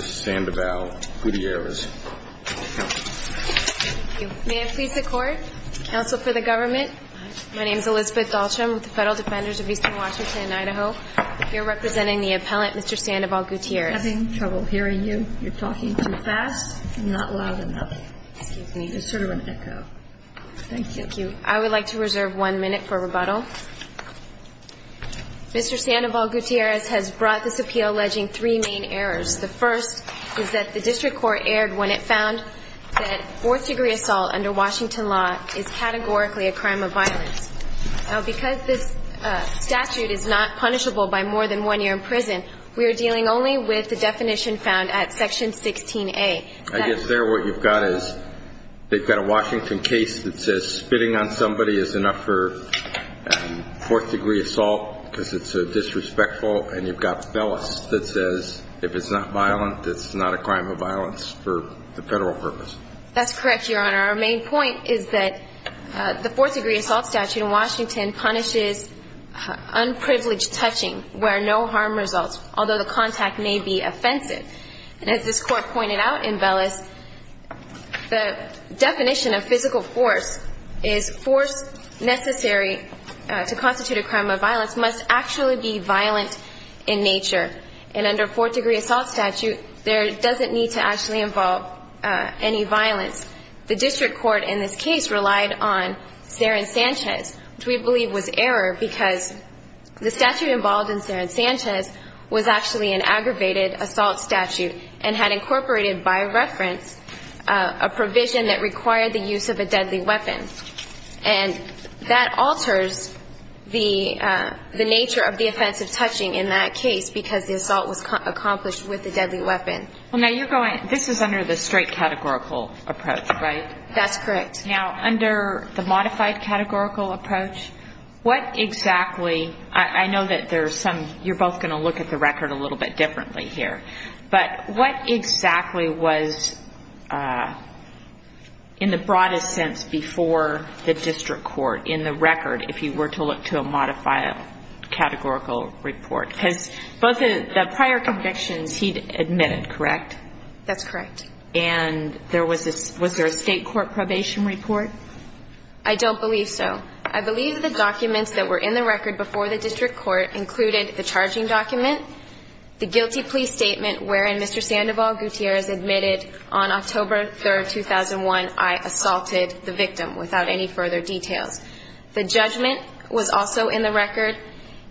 Sandoval-Gutierrez. Thank you. May it please the Court, Counsel for the Government, my name is Elizabeth Daltrim with the Federal Defenders of Eastern Washington and Idaho. I'm here representing the appellant, Mr. Sandoval-Gutierrez. I'm having trouble hearing you. You're talking too fast and not loud enough. Excuse me. It's sort of an echo. Thank you. Thank you. I would like to reserve one minute for rebuttal. Mr. Sandoval-Gutierrez has brought this appeal alleging three main areas of error. The first is that the district court erred when it found that fourth-degree assault under Washington law is categorically a crime of violence. Now, because this statute is not punishable by more than one year in prison, we are dealing only with the definition found at Section 16A. I guess there what you've got is they've got a Washington case that says spitting on somebody is enough for fourth-degree assault because it's disrespectful, and you've got Bellis that says if it's not violent, it's not a crime of violence for the Federal purpose. That's correct, Your Honor. Our main point is that the fourth-degree assault statute in Washington punishes unprivileged touching where no harm results, although the contact may be offensive. And as this Court pointed out in Bellis, the definition of physical force is force necessary to be violent in nature. And under a fourth-degree assault statute, there doesn't need to actually involve any violence. The district court in this case relied on Saron Sanchez, which we believe was error because the statute involved in Saron Sanchez was actually an aggravated assault statute and had incorporated by reference a provision that required the use of a deadly weapon. And that alters the nature of the offense of touching in that case because the assault was accomplished with a deadly weapon. Well, now you're going, this is under the straight categorical approach, right? That's correct. Now, under the modified categorical approach, what exactly, I know that there are some, you're both going to look at the record a little bit differently here, but what exactly was in the broadest sense before the district court in the record if you were to look to a modified categorical report? Because both the prior convictions he admitted, correct? That's correct. And was there a state court probation report? I don't believe so. I believe the documents that were in the record before the district court included the charging document, the guilty plea statement wherein Mr. Sandoval Gutierrez admitted on October 3, 2001, I assaulted the victim without any further details. The judgment was also in the record.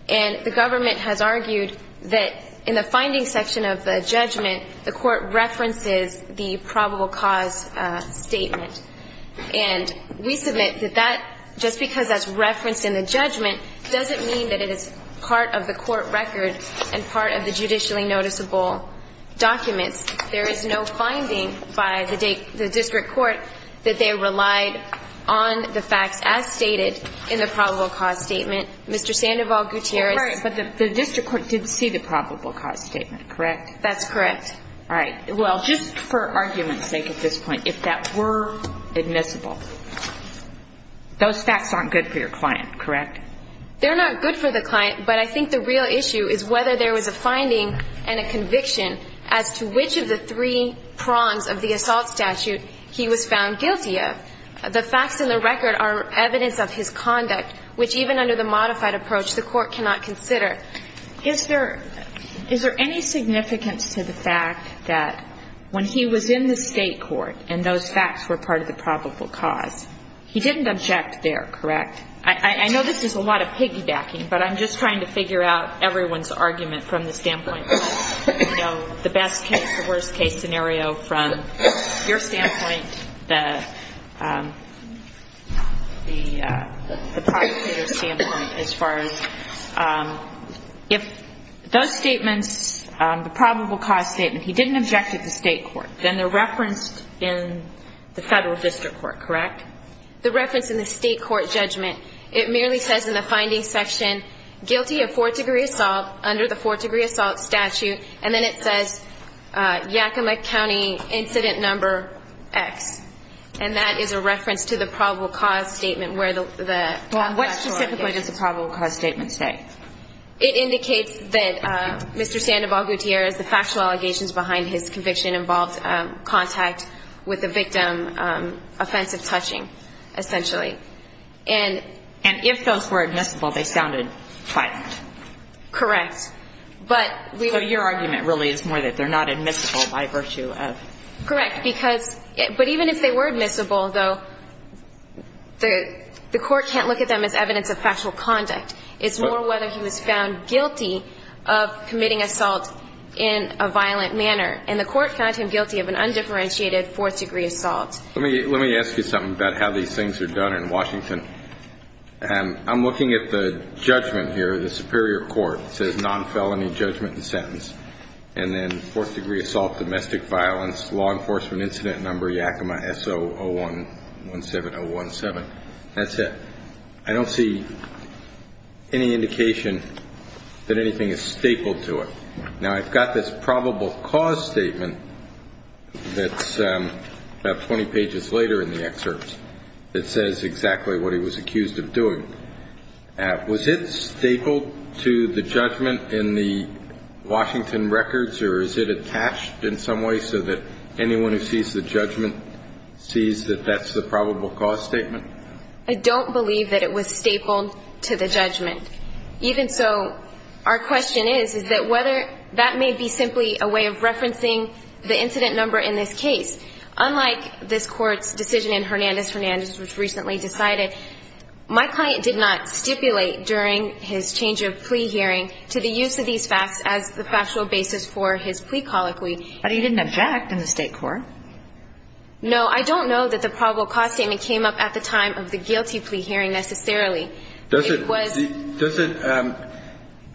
And the government has argued that in the finding section of the judgment, the court references the probable cause statement. And we submit that that, just because that's referenced in the judgment, doesn't mean that it is part of the court record and part of the judicially noticeable documents. There is no finding by the district court that they relied on the facts as stated in the probable cause statement, Mr. Sandoval Gutierrez. But the district court did see the probable cause statement, correct? That's correct. All right. Well, just for argument's sake at this point, if that were admissible, those facts aren't good for your client, correct? They're not good for the client, but I think the real issue is whether there was a finding and a conviction as to which of the three prongs of the assault statute he was found guilty of. The facts in the record are evidence of his conduct, which even under the modified approach the court cannot consider. Is there any significance to the fact that when he was in the state court and those facts were part of the probable cause, he didn't object there, correct? I know this is a lot of piggybacking, but I'm just trying to figure out everyone's argument from the standpoint of, you know, the best case, the worst case scenario from your standpoint, the prosecutor's standpoint as far as if those statements, the probable cause statement, he didn't object at the state court, then they're referenced in the federal district court, correct? The reference in the state court judgment, it merely says in the findings section, guilty of fourth degree assault under the fourth degree assault statute, and then it says Yakima County Incident Number X, and that is a reference to the probable cause statement where the statute is. What specifically does the probable cause statement say? It indicates that Mr. Sandoval-Gutierrez, the factual allegations behind his conviction involved contact with the victim, offensive touching, essentially. And if those were admissible, they sounded quiet. Correct. But we... So your argument really is more that they're not admissible by virtue of... Correct. Because, but even if they were admissible, though, the court can't look at them as evidence of factual conduct. It's more whether he was found guilty or not guilty. Okay. Well, let's look at how these things are done in Washington. I'm looking at the judgment here, the superior court. It says non-felony judgment and sentence, and then fourth degree assault, domestic violence, law enforcement incident number Yakima S.O. 0117017. That's it. I don't see any indication that anything is stapled to it. Now, I've got this probable cause statement that's about 20 pages later in the excerpt that says exactly what he was accused of doing. Was it stapled to the judgment in the Washington records, or is it attached in some way so that anyone who sees the judgment sees that that's the probable cause statement? I don't believe that it was stapled to the judgment. Even so, our question is, is that whether that may be simply a way of referencing the incident number in this case. Unlike this Court's decision in Hernandez-Hernandez, which was recently decided, my client did not stipulate during his change of plea hearing to the use of these facts as the factual basis for his plea colloquy. But he didn't object in the State court. No, I don't know that the probable cause statement came up at the time of the guilty plea hearing, necessarily. It was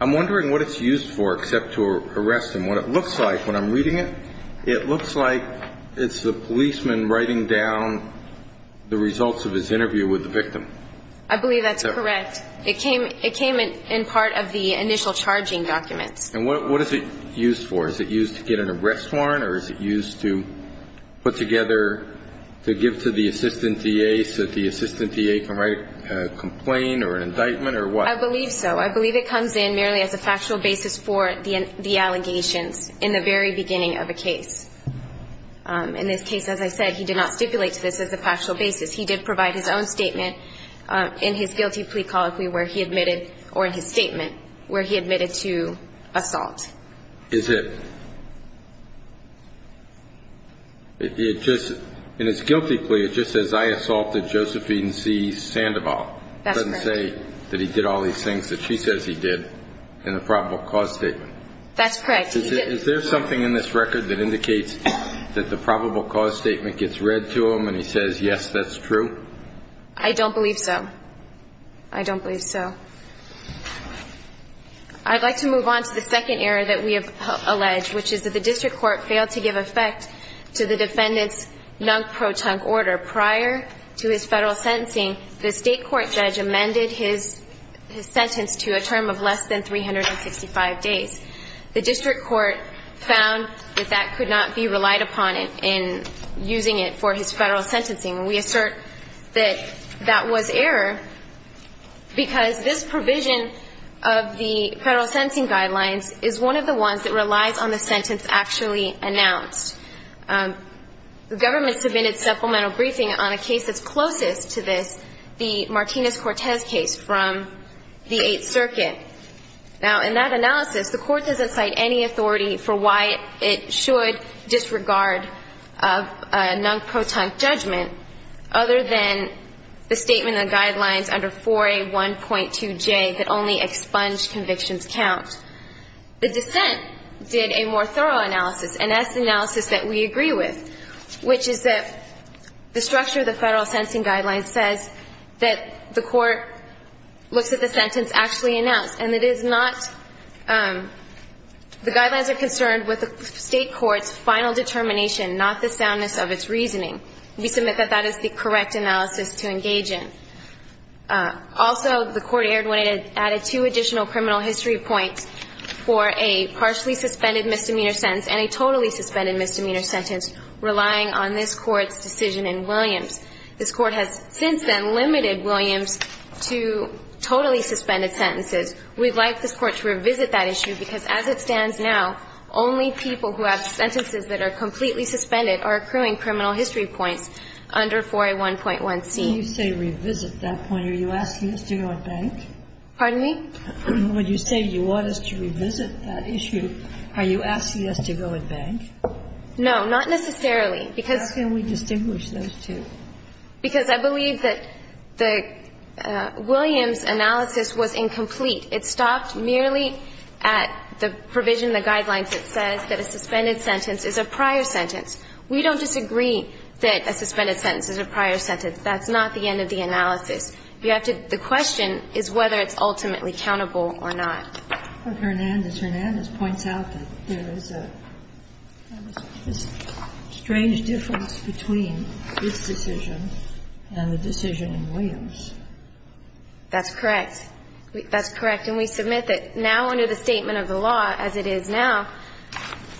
I'm wondering what it's used for except to arrest him. What it looks like when I'm reading it, it looks like it's the policeman writing down the results of his interview with the victim. I believe that's correct. It came in part of the initial charging documents. And what is it used for? Is it used to get an arrest warrant, or is it used to put together, to give to the assistant D.A. so that the assistant D.A. can write a complaint or an indictment or what? I believe so. I believe it comes in merely as a factual basis for the allegations in the very beginning of a case. In this case, as I said, he did not stipulate to this as a factual basis. He did provide his own statement in his guilty plea colloquy where he admitted, or in his statement where he admitted to assault. Is it just in his guilty plea, it just says I assaulted Joseph Eden C. Sandoval. That doesn't say that he did all these things that she says he did in the probable cause statement. That's correct. Is there something in this record that indicates that the probable cause statement gets read to him and he says, yes, that's true? I don't believe so. I don't believe so. I'd like to move on to the second error that we have alleged, which is that the district court failed to give effect to the defendant's non-pro-tunk order. Prior to his Federal sentencing, the State court judge amended his sentence to a term of less than 365 days. The district court found that that could not be relied upon in using it for his Federal sentencing. And we assert that that was error because this provision of the Federal sentencing guidelines is one of the ones that relies on the sentence actually announced. The government submitted supplemental briefing on a case that's closest to this, the Martinez-Cortez case from the Eighth Circuit. Now, in that analysis, the court doesn't cite any authority for why it should disregard a non-pro-tunk judgment other than the statement in the guidelines under 4A1.2J that only expunged convictions count. The dissent did a more thorough analysis, an S analysis that we agree with, which is that the structure of the Federal sentencing guidelines says that the court looks at the sentence actually announced. And it is not the guidelines are concerned with the State court's final determination not the soundness of its reasoning. We submit that that is the correct analysis to engage in. Also, the court erred when it added two additional criminal history points for a partially suspended misdemeanor sentence and a totally suspended misdemeanor sentence relying on this Court's decision in Williams. This Court has since then limited Williams to totally suspended sentences. We'd like this Court to revisit that issue because as it stands now, only people who have sentences that are completely suspended are accruing criminal history points under 4A1.1C. When you say revisit that point, are you asking us to go at bank? Pardon me? When you say you want us to revisit that issue, are you asking us to go at bank? No, not necessarily, because — How can we distinguish those two? Because I believe that the Williams analysis was incomplete. It stopped merely at the provision, the guidelines that says that a suspended sentence is a prior sentence. We don't disagree that a suspended sentence is a prior sentence. That's not the end of the analysis. You have to — the question is whether it's ultimately countable or not. But Hernandez, Hernandez points out that there is a strange difference between its decision and the decision in Williams. That's correct. That's correct. And we submit that now under the statement of the law as it is now,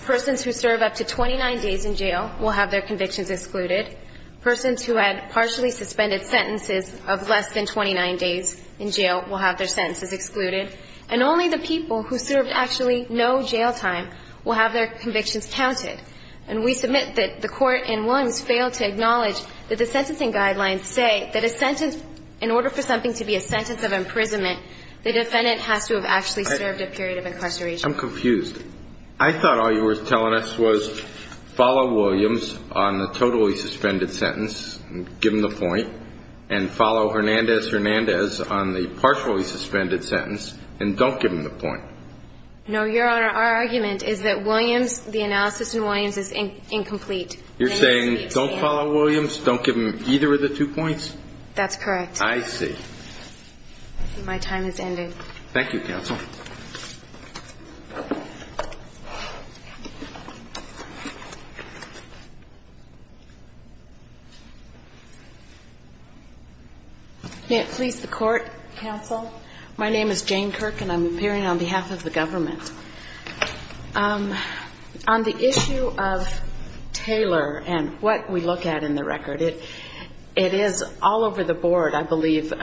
persons who serve up to 29 days in jail will have their convictions excluded, persons who had partially suspended sentences of less than 29 days in jail will have their sentences excluded, and only the people who served actually no jail time will have their convictions counted. And we submit that the Court in Williams failed to acknowledge that the sentencing guidelines say that a sentence, in order for something to be a sentence of imprisonment, the defendant has to have actually served a period of incarceration. I'm confused. I thought all you were telling us was follow Williams on the totally suspended sentence and give him the point, and follow Hernandez, Hernandez on the partially suspended sentence and don't give him the point. No, Your Honor. Our argument is that Williams, the analysis in Williams is incomplete. You're saying don't follow Williams, don't give him either of the two points? That's correct. I see. My time has ended. Thank you, counsel. May it please the Court, counsel. My name is Jane Kirk, and I'm appearing on behalf of the government. On the issue of Taylor and what we look at in the record, it is all over the board, I believe,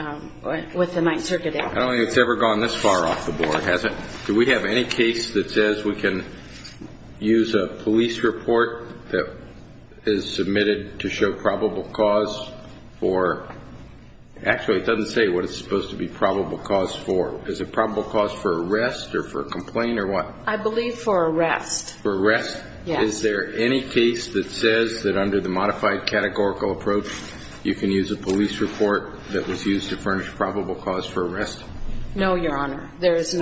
with the Ninth Circuit. I don't think it's ever gone this far off the board, has it? Do we have any case that says we can use a police report that is submitted to show probable cause for, actually, it doesn't say what it's supposed to be probable cause for. Is it probable cause for arrest or for complaint or what? I believe for arrest. For arrest? Yes. Is there any case that says that under the modified categorical approach, you can use a police report that was used to furnish probable cause for arrest? No, Your Honor. There is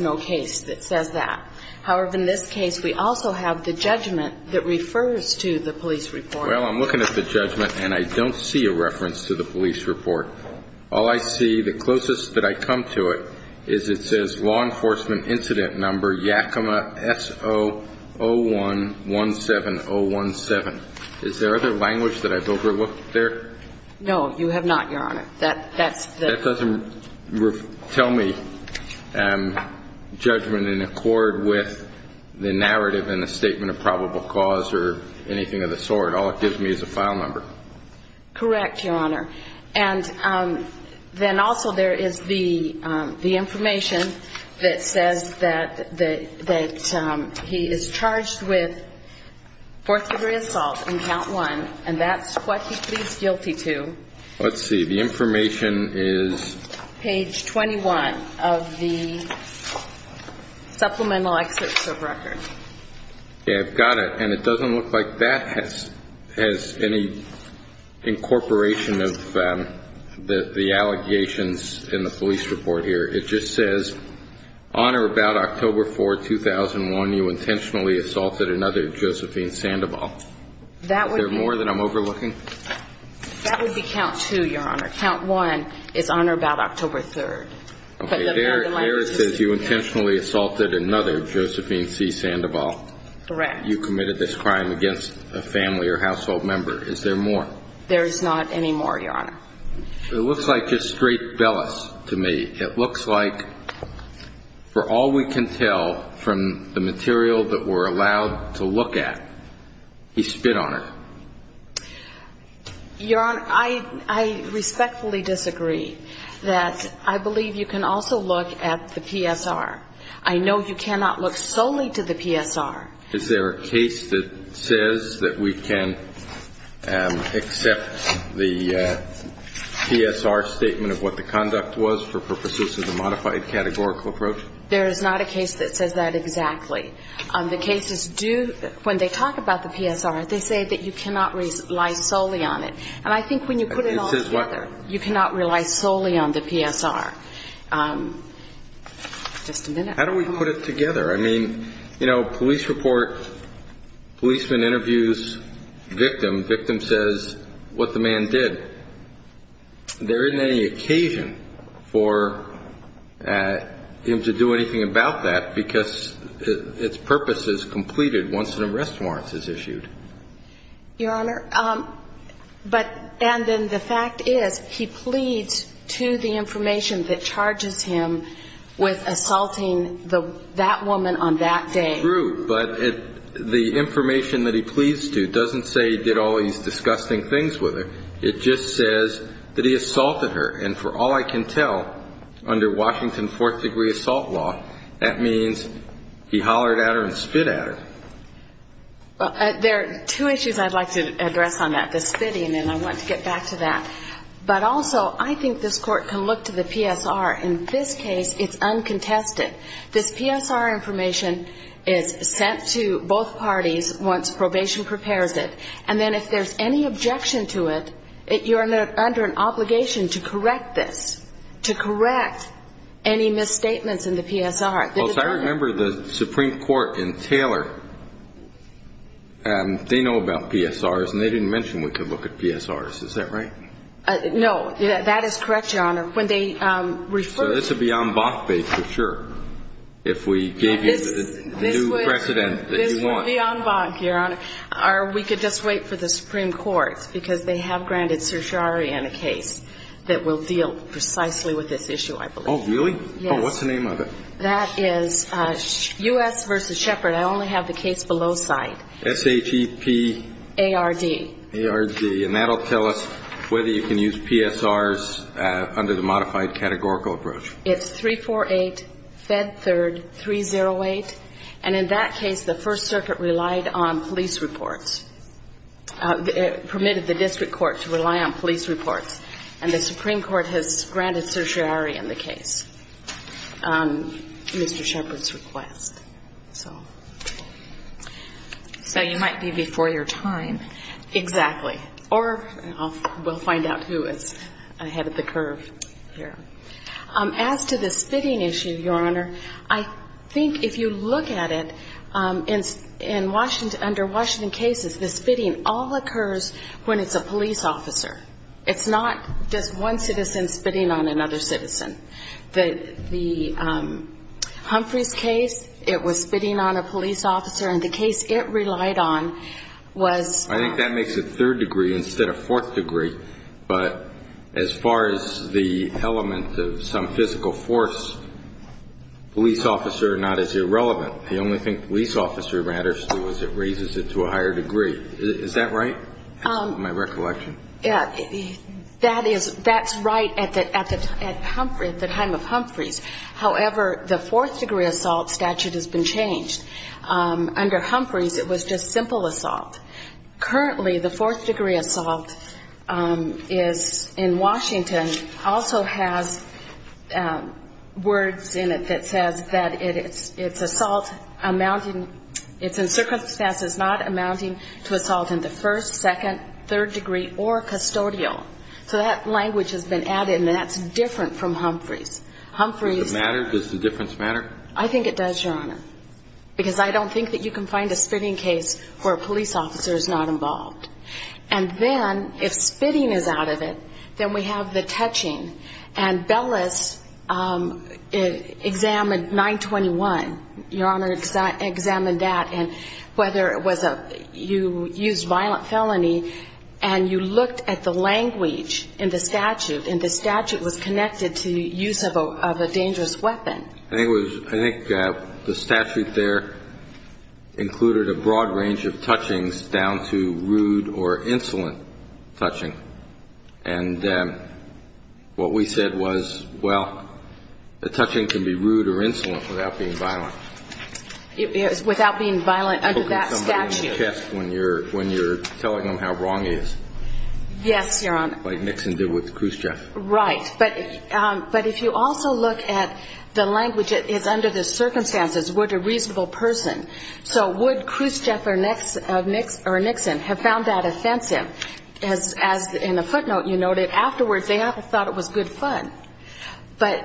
no case that says that. However, in this case, we also have the judgment that refers to the police report. Well, I'm looking at the judgment, and I don't see a reference to the police report. All I see, the closest that I come to it, is it says, Law Enforcement Incident Number Yakima S.O. 0117017. Is there other language that I've overlooked there? No, you have not, Your Honor. That doesn't tell me judgment in accord with the narrative and the statement of probable cause or anything of the sort. All it gives me is a file number. Correct, Your Honor. And then also there is the information that says that he is charged with fourth-degree assault on count one, and that's what he pleads guilty to. Let's see. The information is? Page 21 of the supplemental excerpts of record. Yeah, I've got it. And it doesn't look like that has any incorporation of the allegations in the police report here. It just says, On or about October 4, 2001, you intentionally assaulted another Josephine Sandoval. Is there more that I'm overlooking? That would be count two, Your Honor. Count one is on or about October 3rd. Okay, there it says you intentionally assaulted another Josephine C. Sandoval. Correct. You committed this crime against a family or household member. Is there more? There is not any more, Your Honor. It looks like just straight bellous to me. It looks like for all we can tell from the material that we're allowed to look at, he spit on her. Your Honor, I respectfully disagree that I believe you can also look at the PSR. I know you cannot look solely to the PSR. Is there a case that says that we can accept the PSR statement of what the conduct was for purposes of the modified categorical approach? There is not a case that says that exactly. The cases do, when they talk about the PSR, they say that you cannot rely solely on it. And I think when you put it all together, you cannot rely solely on the PSR. Just a minute. How do we put it together? I mean, you know, police report, policeman interviews victim. Victim says what the man did. There isn't any occasion for him to do anything about that because its purpose is completed once an arrest warrant is issued. Your Honor, and then the fact is he pleads to the information that charges him with assaulting that woman on that day. True, but the information that he pleads to doesn't say he did all these disgusting things with her. It just says that he assaulted her. And for all I can tell, under Washington fourth-degree assault law, that means he hollered at her and spit at her. Well, there are two issues I'd like to address on that, the spitting, and I want to get back to that. But also, I think this Court can look to the PSR. In this case, it's uncontested. This PSR information is sent to both parties once probation prepares it. And then if there's any objection to it, you're under an obligation to correct this, to correct any misstatements in the PSR. I remember the Supreme Court in Taylor, they know about PSRs, and they didn't mention we could look at PSRs. Is that right? No, that is correct, Your Honor. So this would be en banc for sure if we gave you the new precedent that you want. It would be en banc, Your Honor. Or we could just wait for the Supreme Court, because they have granted certiorari in a case that will deal precisely with this issue, I believe. Oh, really? Yes. Oh, what's the name of it? That is U.S. v. Shepard. I only have the case below cite. S-H-E-P? A-R-D. A-R-D. And that will tell us whether you can use PSRs under the modified categorical approach. It's 348, Fed 3rd, 308. And in that case, the First Circuit relied on police reports, permitted the district court to rely on police reports. And the Supreme Court has granted certiorari in the case, Mr. Shepard's request. So you might be before your time. Exactly. Or we'll find out who is ahead of the curve here. As to the spitting issue, Your Honor, I think if you look at it, in Washington, under Washington cases, the spitting all occurs when it's a police officer. It's not just one citizen spitting on another citizen. The Humphreys case, it was spitting on a police officer, and the case it relied on was ---- I think that makes it third degree instead of fourth degree. But as far as the element of some physical force, police officer not as irrelevant. The only thing police officer matters to is it raises it to a higher degree. Is that right? That's my recollection. Yeah. That's right at the time of Humphreys. However, the fourth degree assault statute has been changed. Under Humphreys, it was just simple assault. Currently, the fourth degree assault is in Washington, also has words in it that says that it's assault amounting ---- it's in circumstances not amounting to assault in the first, second, third degree, or custodial. So that language has been added, and that's different from Humphreys. Does it matter? Does the difference matter? I think it does, Your Honor, because I don't think that you can find a spitting case where a police officer is not involved. And then if spitting is out of it, then we have the touching. And Bellis examined 921. Your Honor examined that and whether it was a ---- you used violent felony, and you looked at the language in the statute, and the statute was connected to use of a dangerous weapon. I think the statute there included a broad range of touchings down to rude or insolent touching. And what we said was, well, the touching can be rude or insolent without being violent. Without being violent under that statute. When you're telling them how wrong it is. Yes, Your Honor. Like Nixon did with Khrushchev. Right. But if you also look at the language, it's under the circumstances, would a reasonable person. So would Khrushchev or Nixon have found that offensive? As in a footnote you noted, afterwards they all thought it was good fun. But,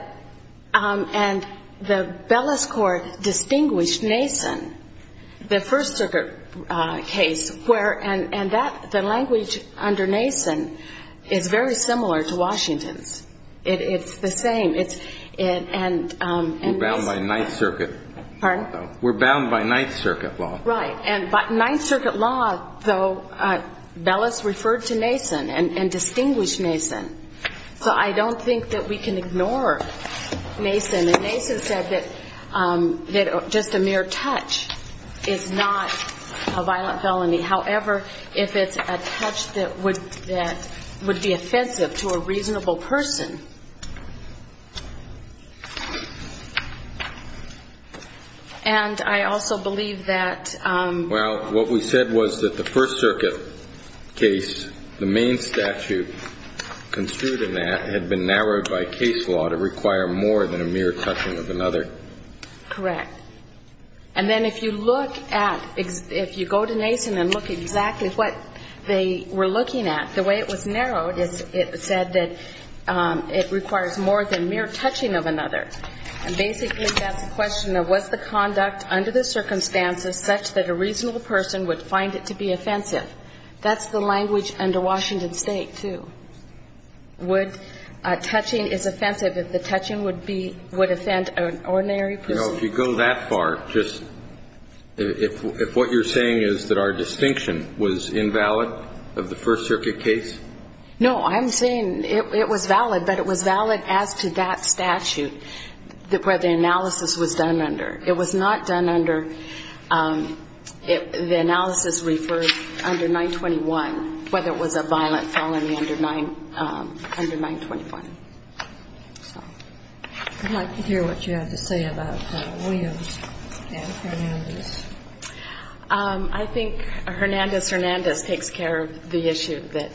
and the Bellis court distinguished Nason, the First Circuit case, where, and that, the language under Nason is very similar to Washington's. It's the same. We're bound by Ninth Circuit. Pardon? We're bound by Ninth Circuit law. Right. And by Ninth Circuit law, though, Bellis referred to Nason and distinguished Nason. So I don't think that we can ignore Nason. And Nason said that just a mere touch is not a violent felony. However, if it's a touch that would be offensive to a reasonable person. And I also believe that. Well, what we said was that the First Circuit case, the main statute construed in that had been narrowed by case law to require more than a mere touching of another. Correct. And then if you look at, if you go to Nason and look exactly what they were looking at, the way it was narrowed, it said that it requires more than mere touching of another. And basically that's a question of was the conduct under the circumstances such that a reasonable person would find it to be offensive. That's the language under Washington State, too. Would touching is offensive if the touching would be, would offend an ordinary person. No, if you go that far, just, if what you're saying is that our distinction was invalid of the First Circuit case? No, I'm saying it was valid, but it was valid as to that statute where the analysis was done under. It was not done under, the analysis referred under 921, whether it was a violent felony under 921. I'd like to hear what you have to say about Williams and Hernandez. I think Hernandez-Hernandez takes care of the issue that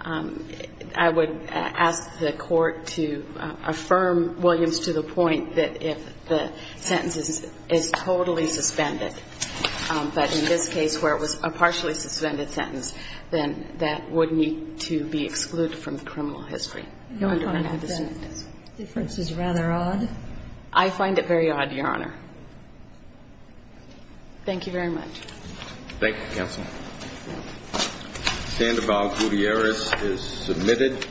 I would ask the Court to affirm Williams to the point that if the sentence is totally suspended, but in this case where it was a partially suspended sentence, then that would need to be excluded from the criminal history under Hernandez-Hernandez. I find that difference is rather odd. I find it very odd, Your Honor. Thank you very much. Thank you, Counsel. Sandoval-Gutierrez is submitted.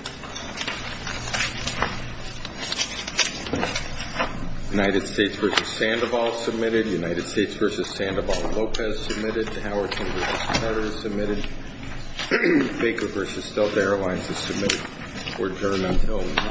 United States v. Sandoval is submitted. United States v. Sandoval-Lopez is submitted. Howerton v. Carter is submitted. Baker v. Stealth Airlines is submitted. We're adjourned until 9 p.m.